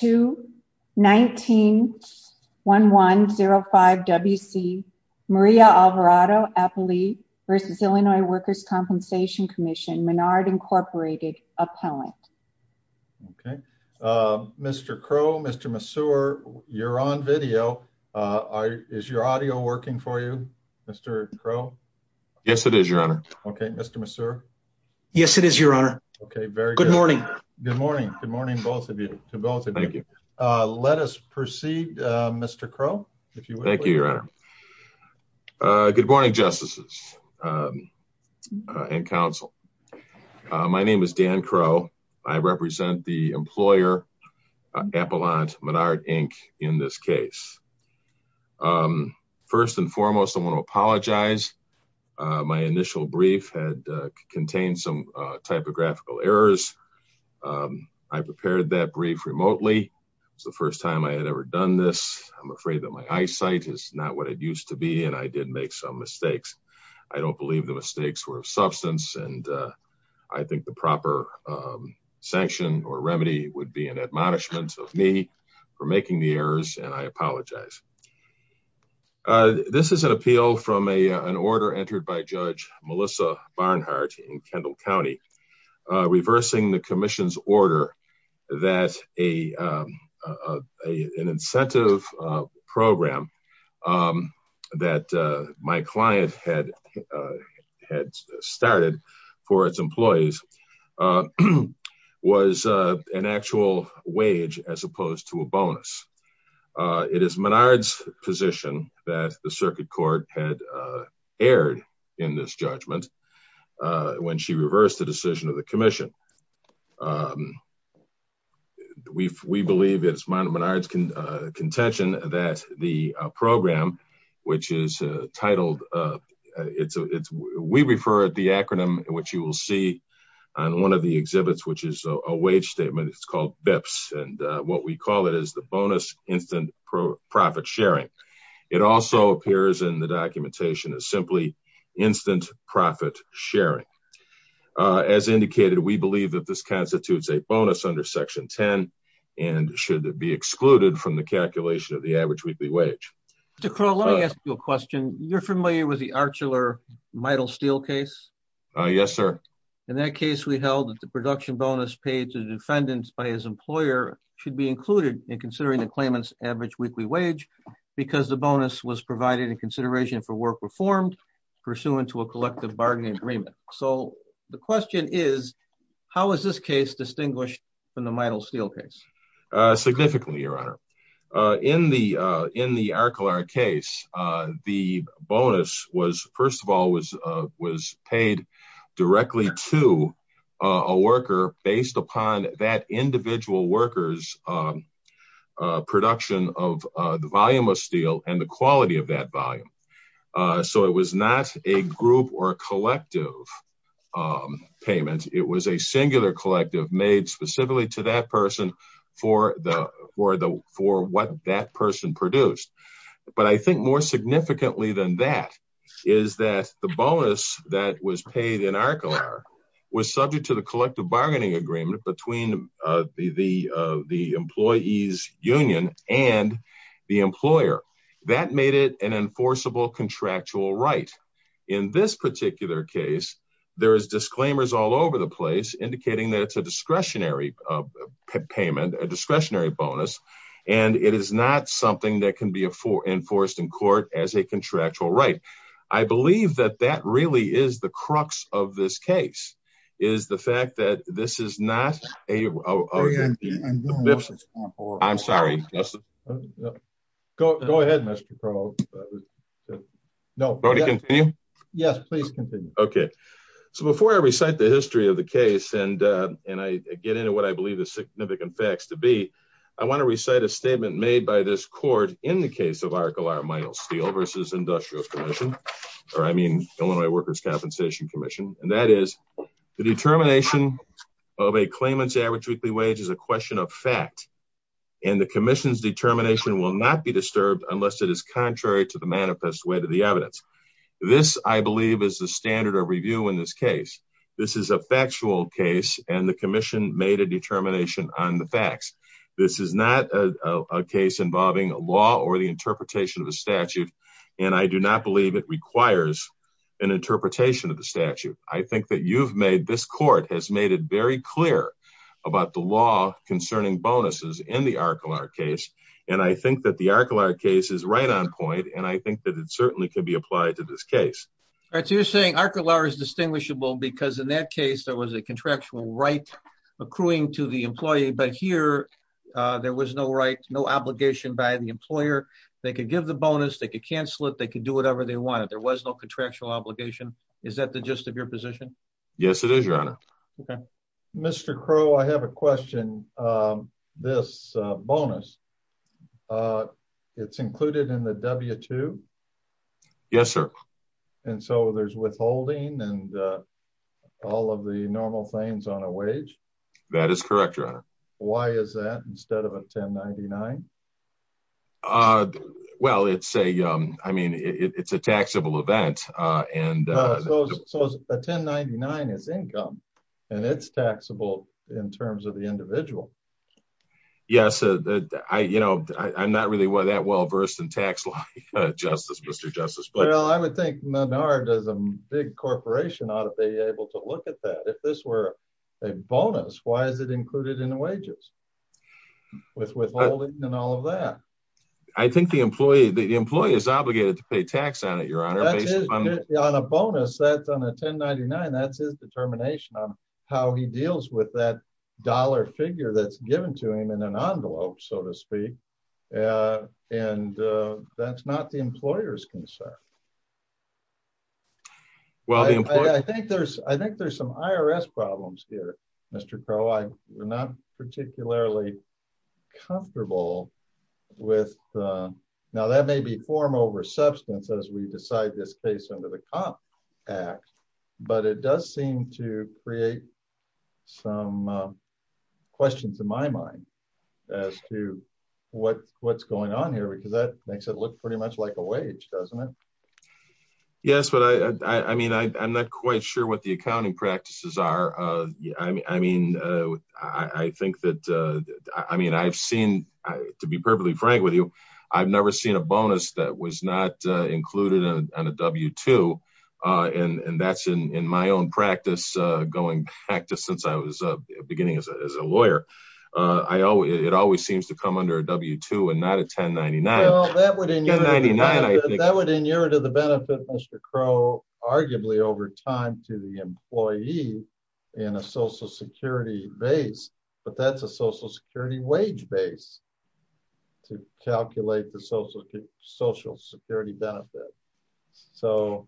to 19-1105 W.C. Maria Alvarado, appellee, v. Illinois Workers' Compensation Commission, Menard Incorporated, appellant. Okay. Mr. Crowe, Mr. Massour, you're on video. Is your audio working for you, Mr. Crowe? Yes, it is, Your Honor. Okay. Mr. Massour? Yes, it is, Your Honor. Okay. Very good. Good morning. Good morning. Good morning, both of you, to both of you. Let us proceed, Mr. Crowe, if you will. Thank you, Your Honor. Good morning, justices and counsel. My name is Dan Crowe. I represent the employer, Appellant Menard, Inc., in this case. First and foremost, I want to apologize. My initial brief had contained some typographical errors. I prepared that brief remotely. It was the first time I had ever done this. I'm afraid that my eyesight is not what it used to be, and I did make some mistakes. I don't believe the mistakes were of substance, and I think the proper sanction or remedy would be an admonishment of me for making the errors, and I apologize. This is an appeal from an order entered by Judge Melissa Barnhart in Kendall County, reversing the commission's order that an incentive program that my client had started for its employees was an actual wage as opposed to a bonus. It is Menard's position that the circuit court had erred in this judgment when she reversed the decision of the commission. We believe it's Menard's contention that the program, which is titled—we refer to the acronym, which you will see on one of the exhibits, which is a wage statement. It's called BIPS, and what we call it is the Bonus Instant Profit Sharing. It also appears in the documentation as simply Instant Profit Sharing. As indicated, we believe that this constitutes a bonus under Section 10 and should be excluded from the calculation of the average weekly wage. Mr. Crowl, let me ask you a question. You're familiar with the Archiler-Meidel Steel case? Yes, sir. In that case, we held that the production bonus paid to defendants by his employer should be included in considering the claimant's average weekly wage because the bonus was provided in consideration for work performed pursuant to a collective bargaining agreement. The question is, how is this case distinguished from the Meidel Steel case? Significantly, Your Honor. In the Archiler case, the bonus, first of all, was paid directly to a worker based upon that individual worker's production of the volume of steel and the quality of that volume. It was not a group or collective payment. It was a singular collective made specifically to that person for what that person produced. But I think more significantly than that is that the bonus that was paid in Archiler was subject to the collective bargaining agreement between the employee's union and the employer. That made it an enforceable contractual right. In this particular case, there are disclaimers all over the place indicating that it's a discretionary payment, a discretionary bonus, and it is not something that can be enforced in court as a contractual right. I believe that that really is the crux of this case, is the fact that this is not a... I'm sorry. Go ahead, Mr. Crowe. No. Yes, please continue. Okay. So before I recite the history of the case and I get into what I believe the significant facts to be, I want to recite a statement made by this court in the case of Archiler Meidel Steel versus Industrial Commission, or I mean Illinois Workers' Compensation Commission, and that is the determination of a claimant's average weekly wage is a question of fact and the commission's determination will not be disturbed unless it is contrary to the manifest way to the evidence. This, I believe, is the standard of review in this case. This is a factual case and the commission made a determination on the facts. This is not a case involving a law or the interpretation of a statute, and I do not believe it requires an interpretation of the statute. I think that you've made, this court has made it very clear about the law concerning bonuses in the Archiler case and I think that the Archiler case is right on point and I think that it certainly could be applied to this case. All right, so you're saying Archiler is distinguishable because in that case there was a contractual right accruing to the employee, but here there was no right, no obligation by the employer. They could give the bonus, they could cancel it, they could do whatever they wanted. There was no contractual obligation. Is that the gist of your position? Yes, it is, your honor. Okay. Mr. Crowe, I have a question. This bonus, it's included in the W-2? Yes, sir. And so there's withholding and all of the normal things on a wage? That is correct, your honor. Why is that instead of a 1099? Well, it's a taxable event. So a 1099 is income and it's taxable in terms of the individual. Yes, I'm not really that well versed in tax law, Mr. Justice. Well, I would think Menard as a big corporation ought to be able to look at that. If this were a bonus, why is it included in the W-2? With withholding and all of that. I think the employee is obligated to pay tax on it, your honor. On a bonus, that's on a 1099, that's his determination on how he deals with that dollar figure that's given to him in an envelope, so to speak. And that's not the employer's concern. Well, I think there's some IRS problems here, Mr. Crowe. I'm not particularly comfortable with, now that may be form over substance as we decide this case under the Comp Act, but it does seem to create some questions in my mind as to what's going on here because that makes it look pretty much like a wage, doesn't it? Yes, but I mean, I'm not quite sure what the accounting practices are. I mean, I've seen, to be perfectly frank with you, I've never seen a bonus that was not included on a W-2 and that's in my own practice going back to since I was beginning as a lawyer. I always, it always seems to come under a W-2 and not a 1099. That would inure to the benefit, Mr. Crowe, arguably over time to the employee in a social security base, but that's a social security wage base to calculate the social security benefit. So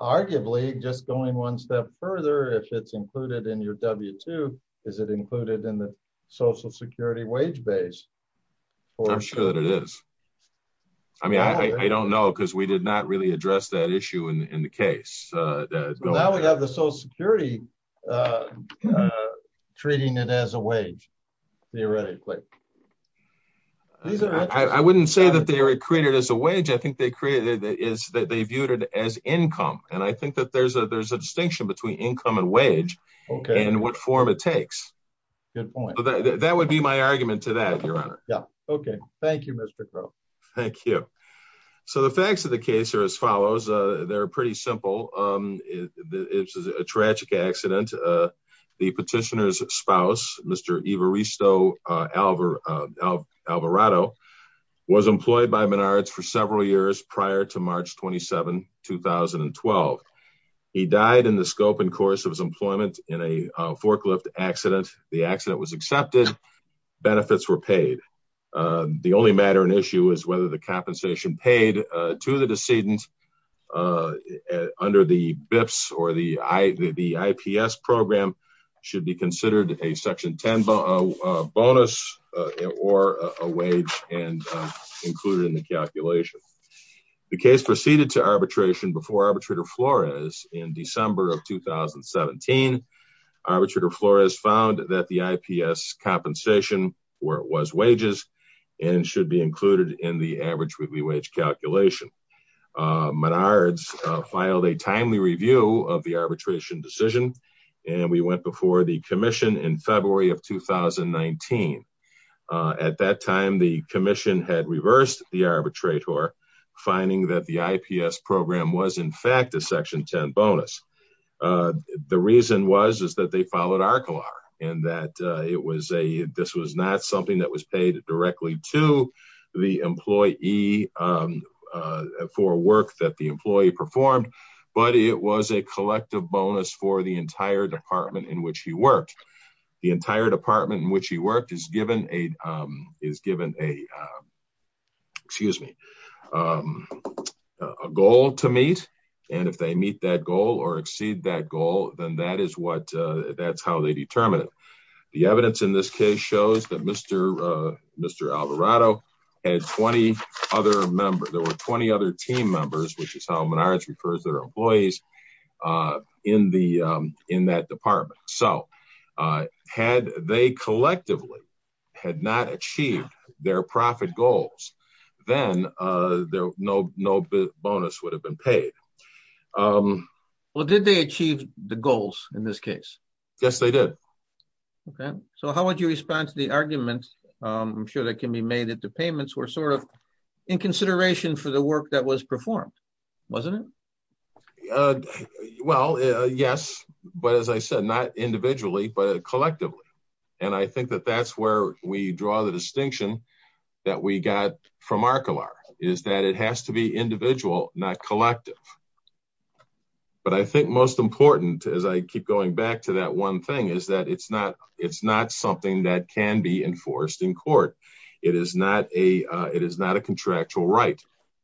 arguably just going one step further, if it's included in your W-2, is it included in the social security wage base? I'm sure that it is. I mean, I don't know because we did not really address that issue in the case. Now we have the social security treating it as a wage, theoretically. I wouldn't say that they are created as a wage. I think they viewed it as income and I think that there's a distinction between income and wage and what form it takes. That would be my argument to that, your honor. Yeah. Okay. Thank you, Mr. Crowe. Thank you. So the facts of the case are as follows. They're pretty simple. It's a tragic accident. The petitioner's spouse, Mr. Evaristo Alvarado was employed by Menards for several years. The accident was accepted. Benefits were paid. The only matter and issue is whether the compensation paid to the decedent under the BIPS or the IPS program should be considered a section 10 bonus or a wage included in the calculation. The case proceeded to arbitration before 2017. Arbitrator Flores found that the IPS compensation was wages and should be included in the average weekly wage calculation. Menards filed a timely review of the arbitration decision and we went before the commission in February of 2019. At that time, the commission had reversed the arbitrator, finding that the IPS program was in fact a section 10 bonus. The reason was is that they followed our color and that it was a, this was not something that was paid directly to the employee, um, uh, for work that the employee performed, but it was a collective bonus for the entire department in which he worked. The entire department in which he worked is given a, um, is given a, um, excuse me, um, a goal to meet. And if they meet that goal or exceed that goal, then that is what, uh, that's how they determine it. The evidence in this case shows that Mr. uh, Mr. Alvarado had 20 other members. There were 20 other team members, which is how Menards refers their employees, uh, in the, um, in that department. So, uh, had they collectively had not achieved their profit goals, then, uh, there were no, no bonus would have been paid. Um, well, did they achieve the goals in this case? Yes, they did. Okay. So how would you respond to the argument? Um, I'm sure that can be made at the payments were sort of in consideration for the work that was performed, wasn't it? Uh, well, uh, yes, but as I said, not individually, but collectively. And I think that that's where we draw the distinction that we got from our color is that it has to be individual, not collective. But I think most important as I keep going back to that one thing is that it's not, it's not something that can be enforced in court. It is not a, uh, it is not a contractual right.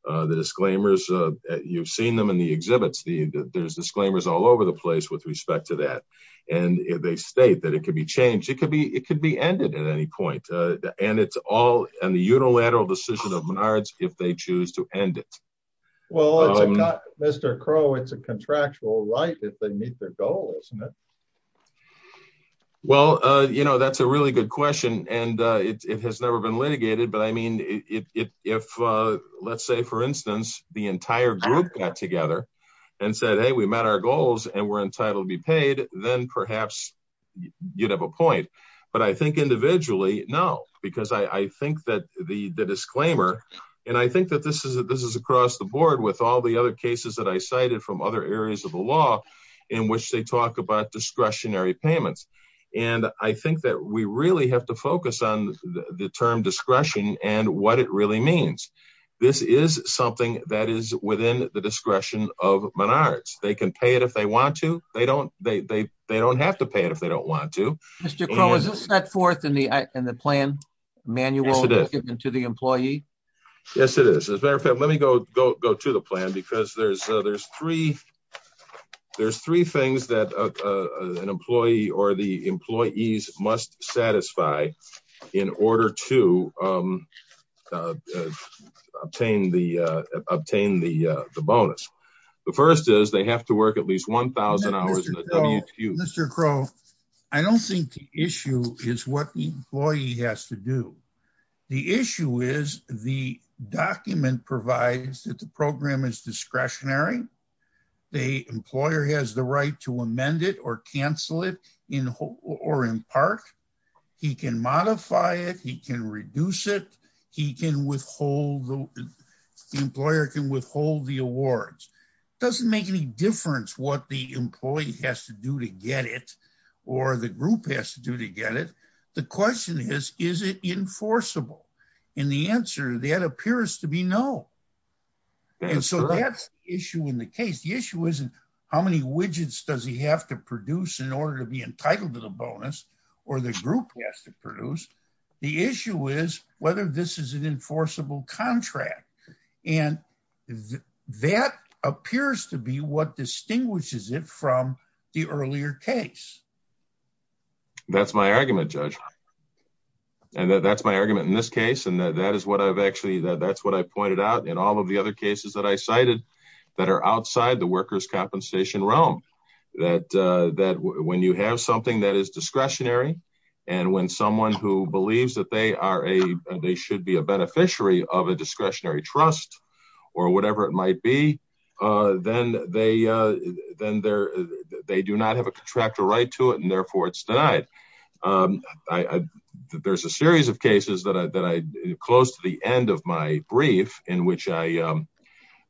Uh, the disclaimers, uh, you've seen them in the exhibits, the there's disclaimers all over the place with respect to that. And if they state that it could be changed, it could be, it could be ended at any point. Uh, and it's all on the unilateral decision of Menards if they choose to end it. Well, Mr. Crow, it's a contractual right. They meet their goal, isn't it? Well, uh, you know, that's a really good question and, uh, it, it has never been litigated, but I mean, if, if, uh, let's say for instance, the entire group got together and said, Hey, we met our goals and we're entitled to be paid. Then perhaps you'd have a point. But I think individually, no, because I think that the disclaimer, and I think that this is a, this is across the board with all the other cases that I cited from other areas of the law in which they talk about discretionary payments. And I think that we really have to focus on the term discretion and what it really means. This is something that is within the discretion of Menards. They can pay it if they want to. They don't, they, they, they don't have to pay it if they don't want to set forth in the, in the plan manual to the employee. Yes, there's, uh, there's three, there's three things that, uh, uh, an employee or the employees must satisfy in order to, um, uh, obtain the, uh, obtain the, uh, the bonus. The first is they have to work at least 1000 hours. Mr. Crowe, I don't think the issue is what the employee has to do. The issue is the document provides that the program is discretionary. The employer has the right to amend it or cancel it in whole or in part. He can modify it. He can reduce it. He can withhold the employer can withhold the awards. It doesn't make any difference what the enforceable in the answer that appears to be no. And so that's the issue in the case. The issue isn't how many widgets does he have to produce in order to be entitled to the bonus or the group has to produce. The issue is whether this is an enforceable contract. And that appears to be what distinguishes it from the earlier case. That's my argument judge. And that's my argument in this case. And that is what I've actually, that's what I pointed out in all of the other cases that I cited that are outside the worker's compensation realm that, uh, that when you have something that is discretionary and when someone who believes that they are a, they should be a then they're, they do not have a contractor right to it. And therefore it's denied. Um, I, I, there's a series of cases that I, that I close to the end of my brief in which I, um,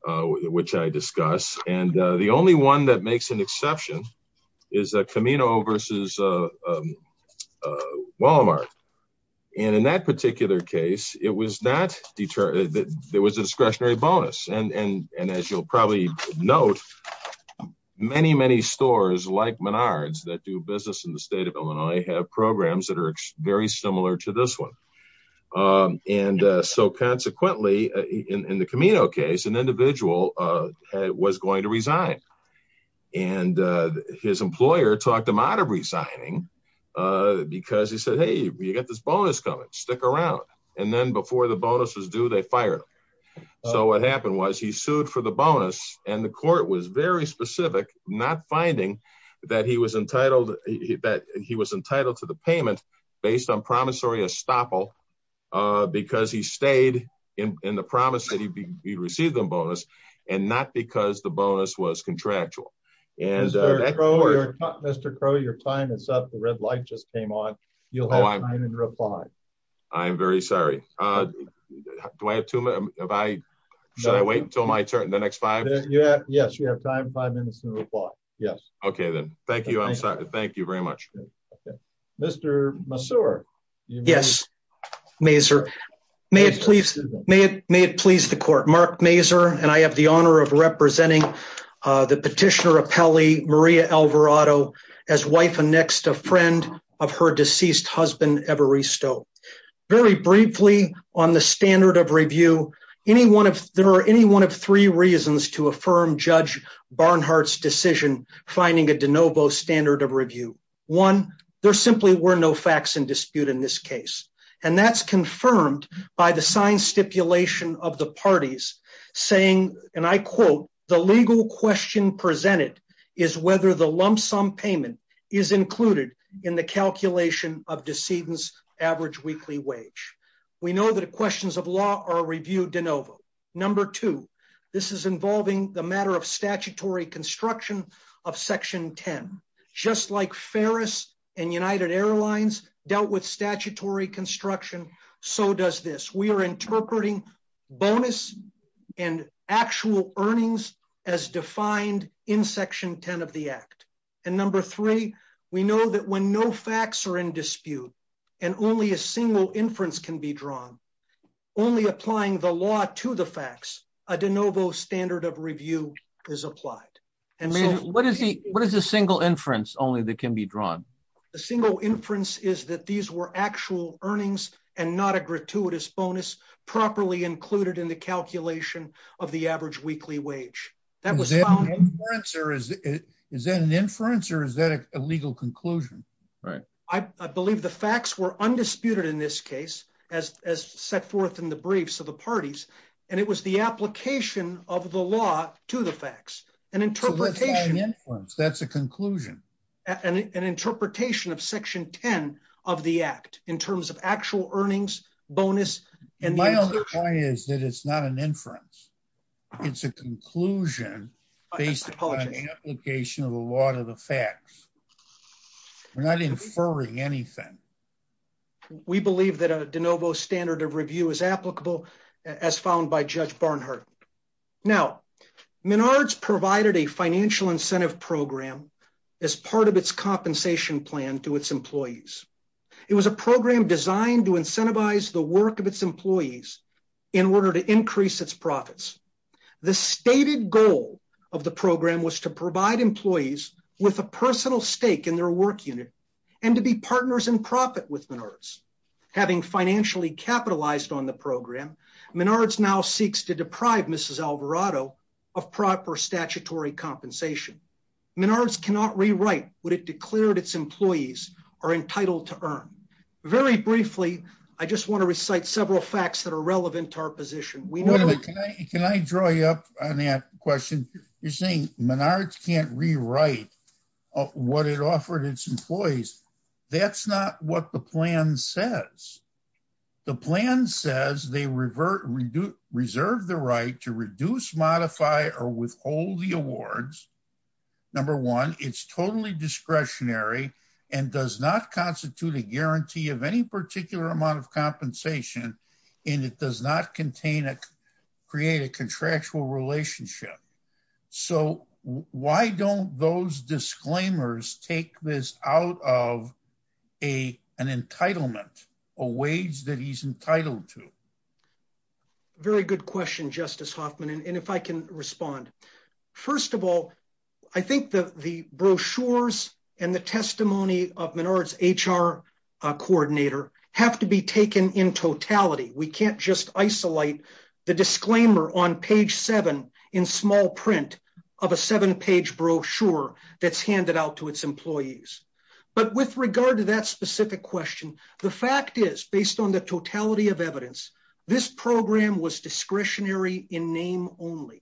which I discuss. And, uh, the only one that makes an exception is a Camino versus, uh, um, uh, Walmart. And in that particular case, it was not deter that there was a discretionary bonus. And, and as you'll probably note many, many stores like Menards that do business in the state of Illinois have programs that are very similar to this one. Um, and, uh, so consequently in the Camino case, an individual, uh, was going to resign and, uh, his employer talked him out of resigning, uh, because he said, Hey, you got this bonus coming stick around. And then before the he sued for the bonus and the court was very specific, not finding that he was entitled that he was entitled to the payment based on promissory estoppel, uh, because he stayed in the promise that he received them bonus and not because the bonus was contractual. And Mr. Crow, your time is up. The red light just came on. You'll have time and reply. I'm very sorry. Uh, do I have two minutes? Should I wait until my turn in the next five? Yes, you have time. Five minutes to reply. Yes. Okay. Then. Thank you. I'm sorry. Thank you very much. Okay. Mr. Yes. Maser. May it please. May it, may it please the court, Mark Maser. And I have the honor of representing, uh, the petitioner of Peli Maria Alvarado as wife and next a friend of her deceased husband, every stove very briefly on the standard of review. Any one of there are any one of three reasons to affirm judge Barnhart's decision, finding a DeNovo standard of review one, there simply were no facts in dispute in this case. And that's confirmed by the science stipulation of the parties saying, and I quote, the legal question presented is whether the lump sum payment is included in the calculation of decedents average weekly wage. We know that questions of law are reviewed DeNovo number two. This is involving the matter of statutory construction of section 10, just like Ferris and United Airlines dealt with statutory construction. So does this, we are interpreting bonus and actual earnings as defined in section 10 of the act. And number three, we know that when no facts are in dispute and only a single inference can be drawn only applying the law to the facts, a DeNovo standard of review is applied. And what is the, what is the single inference only that can be drawn? The single inference is that these were actual earnings and not a gratuitous bonus properly included in the calculation of the average weekly wage. Is that an inference or is that a legal conclusion? Right. I believe the facts were undisputed in this case as set forth in the briefs of the parties. And it was the application of the law to the facts and interpretation. That's a conclusion. And an interpretation of section 10 of the act in terms of actual earnings bonus. And my other point is that it's not an inference. It's a conclusion based on the application of the law to the facts. We're not inferring anything. We believe that a DeNovo standard of review is applicable as found by judge Barnhart. Now Menards provided a financial incentive program as part of its compensation plan to its employees. It was a program designed to incentivize the work of its employees in order to increase its profits. The stated goal of the program was to provide employees with a personal stake in their work unit and to be partners in profit with Menards. Having financially capitalized on the program, Menards now seeks to deprive Mrs. Alvarado of proper statutory compensation. Menards cannot rewrite what it declared its employees are entitled to earn. Very briefly, I just want to recite several facts that are relevant to our position. Can I draw you up on that question? You're saying Menards can't rewrite what it offered its employees. That's not what the plan says. The plan says they reserve the right to reduce, modify, or withhold the awards. Number one, it's totally discretionary and does not constitute a guarantee of any particular amount of compensation, and it does not create a contractual relationship. So why don't those disclaimers take this out of an entitlement, a wage that he's entitled to? Very good question, Justice Hoffman, and if I can respond. First of all, I think the brochures and the testimony of Menards' HR coordinator have to be taken in totality. We can't just isolate the disclaimer on page seven in small print of a seven-page brochure that's handed out to its employees. But with regard to that specific question, the fact is, based on the totality of this program, was discretionary in name only.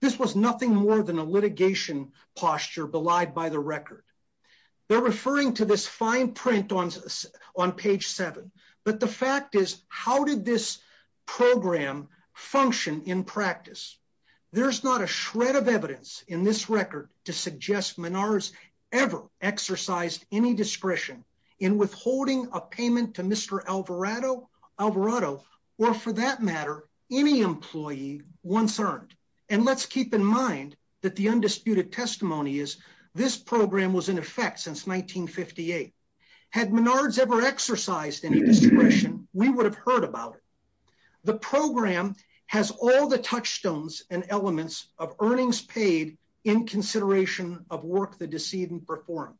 This was nothing more than a litigation posture belied by the record. They're referring to this fine print on page seven, but the fact is, how did this program function in practice? There's not a shred of evidence in this record to suggest Menards ever exercised any discretion in withholding a payment to Mr. Alvarado or for that matter, any employee once earned. And let's keep in mind that the undisputed testimony is this program was in effect since 1958. Had Menards ever exercised any discretion, we would have heard about it. The program has all the touchstones and elements of earnings paid in consideration of work the decedent performed.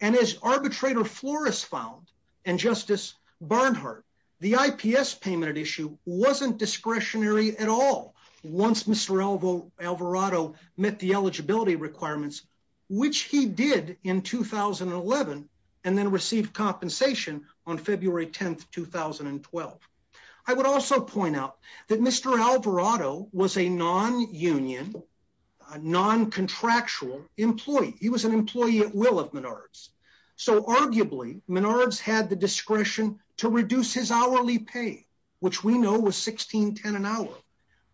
And as arbitrator Flores found and Justice Barnhart, the IPS payment issue wasn't discretionary at all once Mr. Alvarado met the eligibility requirements, which he did in 2011 and then received compensation on February 10th, 2012. I would also point out that Mr. Alvarado was a non-union, non-contractual employee. He was an employee at will of Menards. So arguably Menards had the discretion to reduce his hourly pay, which we know was 1610 an hour.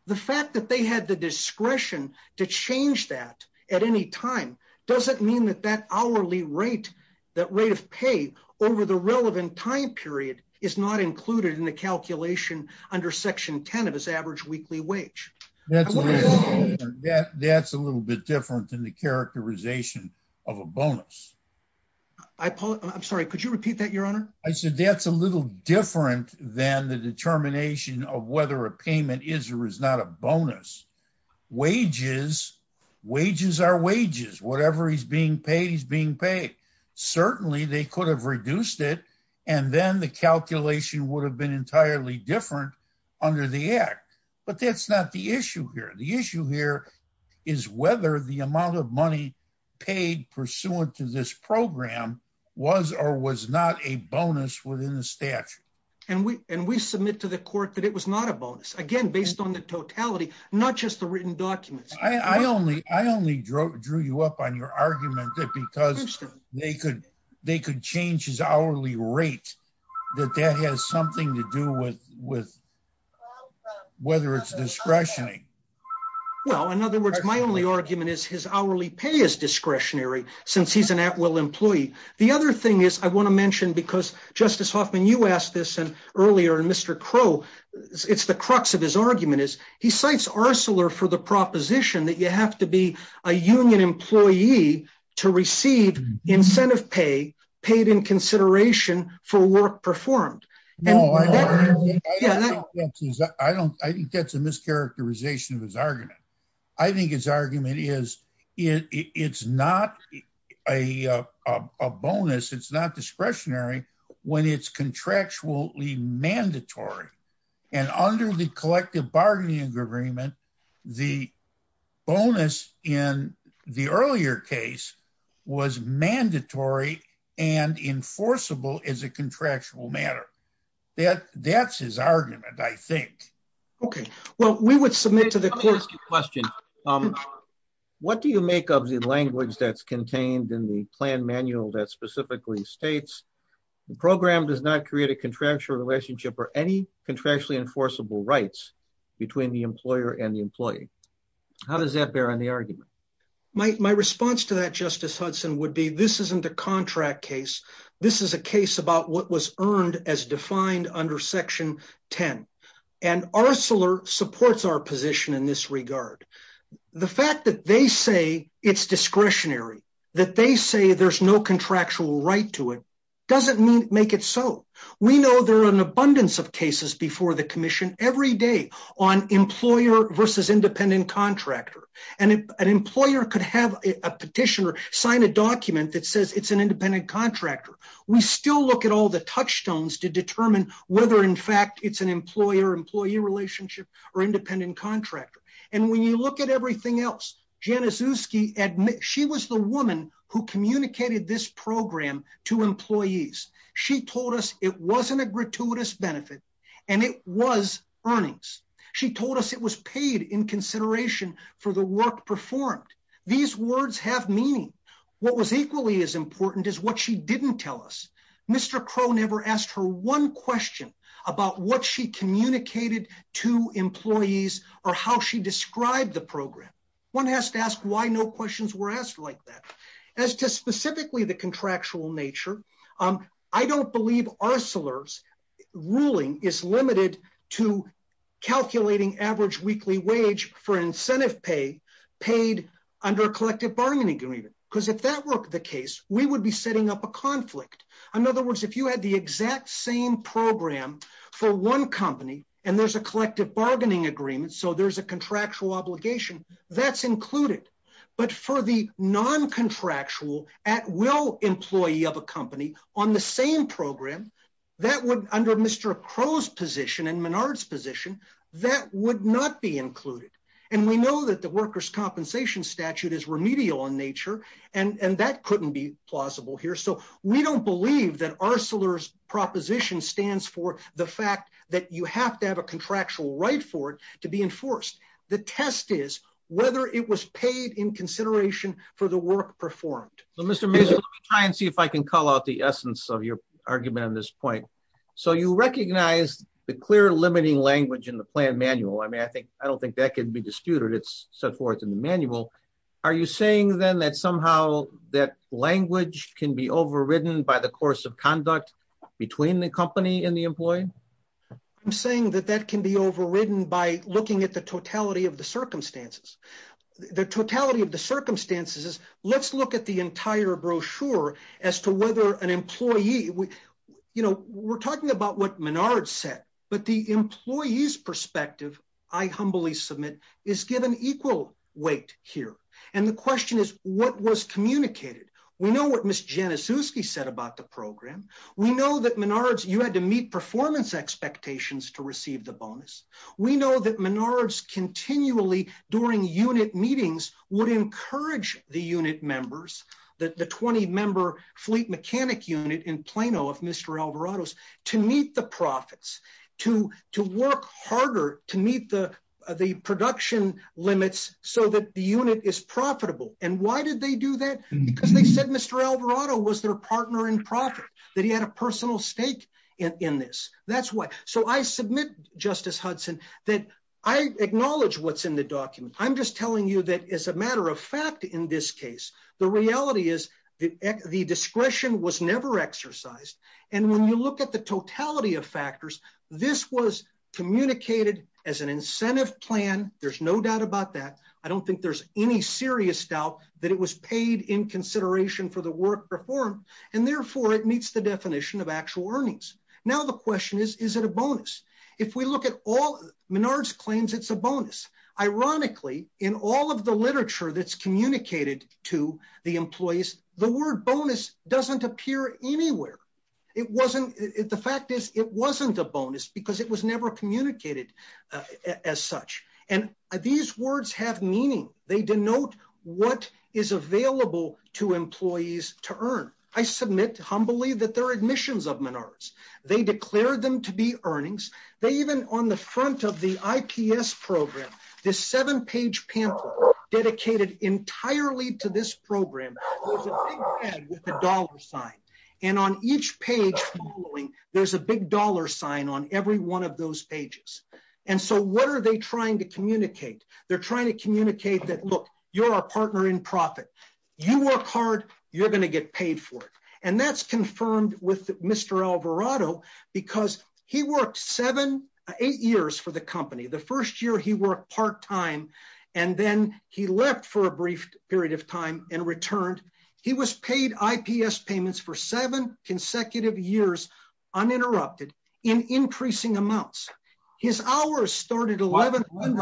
The fact that they had the discretion to change that at any time, doesn't mean that that hourly rate, that rate of pay over the relevant time period is not included in the calculation under section 10 of his average weekly wage. That's a little bit different than the characterization of a bonus. I'm sorry, could you repeat that your honor? I said that's a little different than the determination of whether a payment is or is not a bonus. Wages, wages are wages. Whatever he's being paid, he's being paid. Certainly they could have reduced it. And then the calculation would have been entirely different under the act. But that's not the issue here. The issue here is whether the amount of money paid pursuant to this program was or was not a bonus within the statute. And we, and we submit to the court that it was not a bonus. Again, based on the totality, not just the written documents. I only, I only drew you up on your argument that because they could, they could change his hourly rate, that that has something to do with, with whether it's discretionary. Well, in other words, my only argument is his hourly pay is discretionary since he's an at will employee. The other thing is I want to mention because justice Hoffman, you asked this and earlier, and Mr. Crow, it's the crux of his argument is he cites Arcelor for the proposition that you have to be a union employee to receive incentive pay paid in consideration for work performed. I don't, I think that's a mischaracterization of his argument. I think his argument is, it's not a, a bonus. It's not discretionary when it's contractually mandatory. And under the collective bargaining agreement, the bonus in the earlier case was mandatory and enforceable as a contractual matter. That, that's his argument, I think. Okay. Well, we would submit to the question. What do you make of the language that's contained in the plan manual that specifically states the program does not create a contractual relationship or any contractually enforceable rights between the employer and the employee. How does that bear on the argument? My, my response to that justice Hudson would be, this isn't a contract case. This is a case about what was earned as defined under section 10. And Arcelor supports our position in this regard. The fact that they say it's discretionary, that they say there's no contractual right to it. Doesn't mean make it. So we know there are an abundance of cases before the commission every day on employer versus independent contractor. And an employer could have a petitioner sign a document that says it's an independent contractor. We still look at all the touchstones to determine whether in fact it's an employer, employee relationship or independent contractor. And when you look at everything else, Januszewski admit, she was the woman who communicated this program to employees. She told us it wasn't a gratuitous benefit and it was earnings. She told us it was paid in consideration for the work performed. These words have meaning. What was equally as important is what she didn't tell us. Mr. Crow never asked her one question about what she communicated to employees or how she described the program. One has to ask why no questions were asked like that. As to specifically the contractual nature, I don't believe Arcelor's ruling is limited to calculating average weekly wage for incentive pay paid under a collective bargaining agreement. Because if that were the case, we would be setting up a conflict. In other words, if you had the exact same program for one company and there's a collective bargaining agreement, so there's a contractual at will employee of a company on the same program that would under Mr. Crow's position and Menard's position, that would not be included. And we know that the workers' compensation statute is remedial in nature and that couldn't be plausible here. So we don't believe that Arcelor's proposition stands for the fact that you have to have a contractual right for it to be enforced. The test is whether it was paid in consideration for the work performed. Mr. Mazur, let me try and see if I can call out the essence of your argument on this point. So you recognize the clear limiting language in the plan manual. I mean, I don't think that can be disputed. It's set forth in the manual. Are you saying then that somehow that language can be overridden by the course of conduct between the company and the employee? I'm saying that that can be overridden by looking at the totality of the circumstances. The totality of the circumstances is, let's look at the entire brochure as to whether an employee, you know, we're talking about what Menard said, but the employee's perspective, I humbly submit, is given equal weight here. And the question is, what was communicated? We know what Ms. Janiszewski said about the program. We know that Menard's, you had to meet performance expectations to receive the bonus. We know that Menard's continually during unit meetings would encourage the unit members, the 20-member fleet mechanic unit in Plano of Mr. Alvarado's, to meet the profits, to work harder to meet the production limits so that the unit is profitable. And why did they do that? Because they said Mr. Alvarado was their partner in profit, that he had a personal stake in this. That's why. So I submit, Justice Hudson, that I acknowledge what's in the document. I'm just telling you that as a matter of fact, in this case, the reality is the discretion was never exercised. And when you look at the totality of factors, this was communicated as an incentive plan. There's no doubt about that. I don't think there's any serious doubt that it was paid in consideration for the work performed, and therefore it meets the definition of actual earnings. Now the question is, is it a bonus? If we look at all Menard's claims, it's a bonus. Ironically, in all of the literature that's communicated to the employees, the word bonus doesn't appear anywhere. The fact is, it wasn't a bonus because it was never communicated as such. And these words have meaning. They denote what is available to employees to earn. I submit humbly that they're admissions of Menard's. They declared them to be earnings. They even, on the front of the IPS program, this seven-page pamphlet dedicated entirely to this program, there's a big head with a dollar sign. And on each page, there's a big dollar sign on every one of those pages. And so what are they trying to communicate? They're trying to communicate that, look, you're our partner in profit. You work hard, you're going to get paid for it. And that's confirmed with Mr. Alvarado because he worked seven, eight years for the company. The first year he worked part-time and then he left for a brief period of time and returned. He was paid IPS payments for seven consecutive years uninterrupted in increasing amounts. His hours started at 11.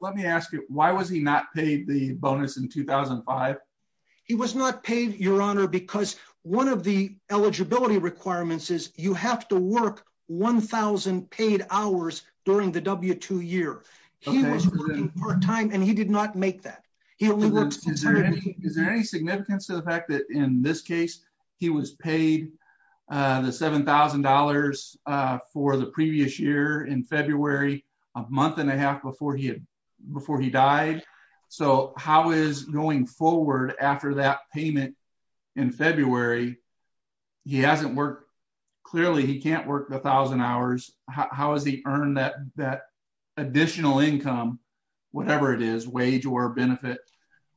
Let me ask you, why was he not paid the bonus in 2005? He was not paid, Your Honor, because one of the eligibility requirements is you have to work 1,000 paid hours during the W-2 year. He was working part-time and he did not make that. He only worked- Is there any significance to the fact that in this case, he was paid the $7,000 for the previous year in February, a month and a half before he died? So how is going forward after that payment in February, he hasn't worked, clearly he can't work 1,000 hours. How has he that additional income, whatever it is, wage or benefit,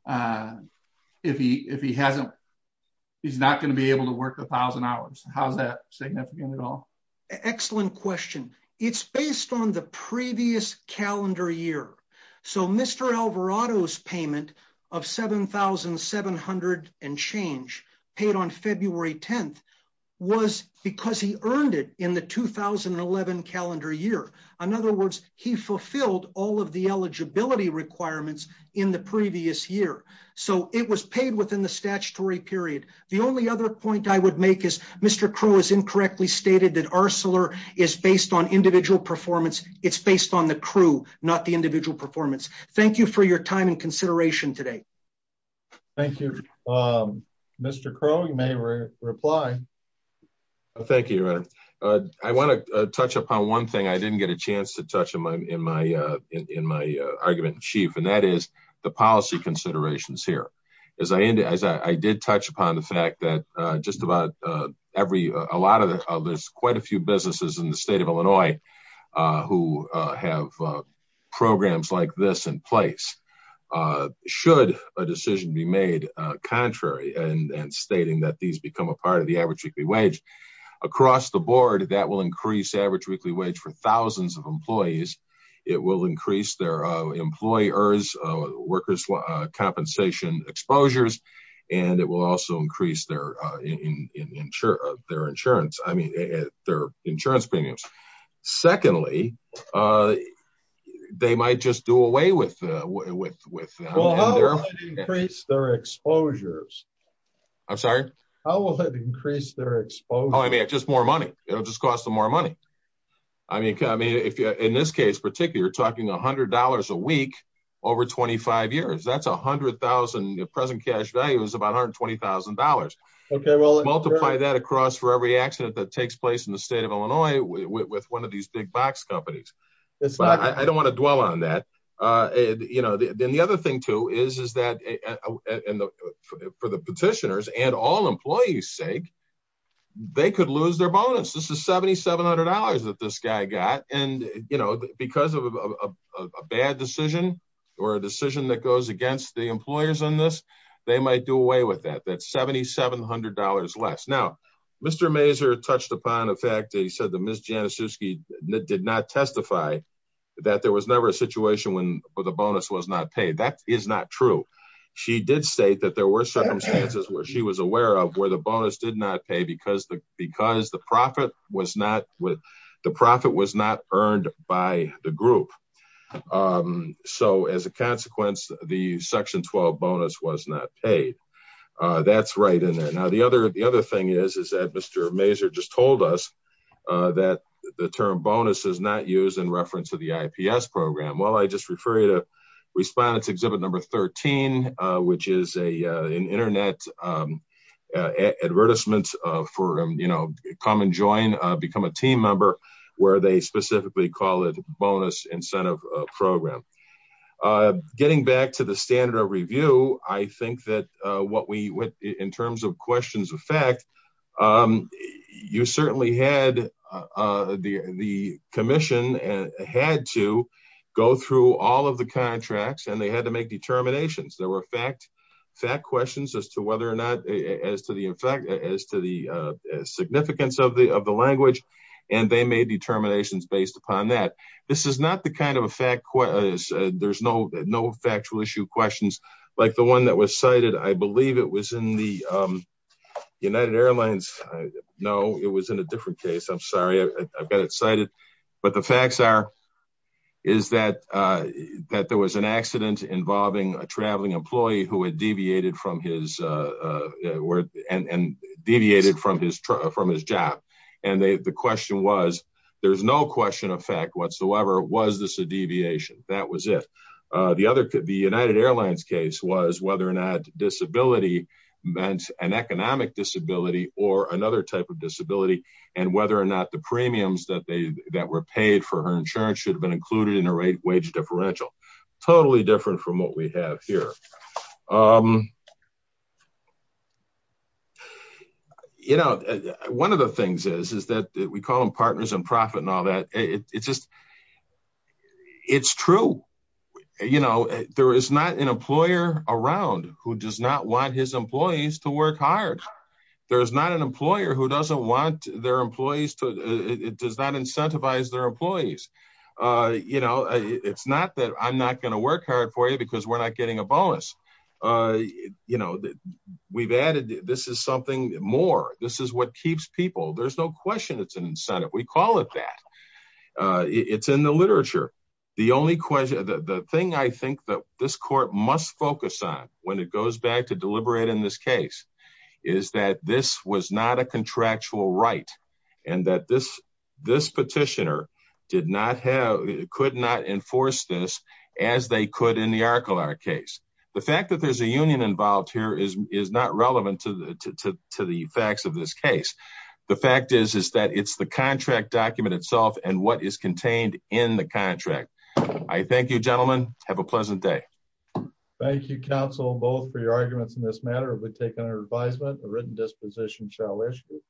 if he hasn't, he's not going to be able to work 1,000 hours. How is that significant at all? Excellent question. It's based on the previous calendar year. So Mr. Alvarado's payment of $7,700 and change paid on February 10th because he earned it in the 2011 calendar year. In other words, he fulfilled all of the eligibility requirements in the previous year. So it was paid within the statutory period. The only other point I would make is Mr. Crow has incorrectly stated that Arcelor is based on individual performance. It's based on the crew, not the individual performance. Thank you for your time and thank you, Your Honor. I want to touch upon one thing I didn't get a chance to touch on in my argument in chief, and that is the policy considerations here. As I did touch upon the fact that just about every, a lot of it, there's quite a few businesses in the state of Illinois who have programs like this in place. Should a decision be made contrary and stating that these are part of the average weekly wage? Across the board, that will increase average weekly wage for thousands of employees. It will increase their employers' workers' compensation exposures, and it will also increase their insurance premiums. Secondly, they might just do away with it. How will it increase their exposures? I'm sorry? How will it increase their exposure? Oh, I mean, it's just more money. It'll just cost them more money. I mean, in this case, particularly, you're talking $100 a week over 25 years. That's $100,000. The present cash value is about $120,000. Okay. Well, multiply that across for every accident that takes place in the state of Illinois with one of these big box companies. I don't want to dwell on that. Then the other two is that, for the petitioners and all employees' sake, they could lose their bonus. This is $7,700 that this guy got. Because of a bad decision or a decision that goes against the employers on this, they might do away with that. That's $7,700 less. Now, Mr. Mazur touched upon the fact that he said that Ms. Januszewski did not testify that there was never a situation where the bonus was not paid. That is not true. She did state that there were circumstances where she was aware of where the bonus did not pay because the profit was not earned by the group. So, as a consequence, the Section 12 bonus was not paid. That's right in there. Now, the other thing is that Mr. Mazur just told us that the term bonus is not used in reference to the IPS program. Well, I just refer you to Respondent's Exhibit 13, which is an internet advertisement for come and join, become a team member, where they specifically call it Bonus Incentive Program. Getting back to the standard of review, I think that in terms of fact, the commission had to go through all of the contracts, and they had to make determinations. There were fact questions as to the significance of the language, and they made determinations based upon that. This is not the kind of factual issue questions like the one that was cited. I know it was in a different case. I'm sorry. I've got it cited. The facts are that there was an accident involving a traveling employee who had deviated from his job. The question was, there's no question of fact whatsoever. Was this a deviation? That was it. The United Airlines case was whether or not disability meant an economic disability or another type of disability, and whether or not the premiums that were paid for her insurance should have been included in her wage differential. Totally different from what we have here. One of the things is that we call them who does not want his employees to work hard. There's not an employer who does not incentivize their employees. It's not that I'm not going to work hard for you because we're not getting a bonus. We've added this is something more. This is what keeps people. There's no question it's an incentive. We call it that. It's in the literature. The thing I think that this court must focus on when it goes back to deliberate in this case is that this was not a contractual right and that this petitioner could not enforce this as they could in the Arcolar case. The fact that there's a union involved here is not relevant to the facts of this case. The fact is that it's the contract document itself and what is contained in the contract. I thank you, gentlemen. Have a pleasant day. Thank you, counsel, both for your arguments in this matter. We've taken our advisement. The written disposition shall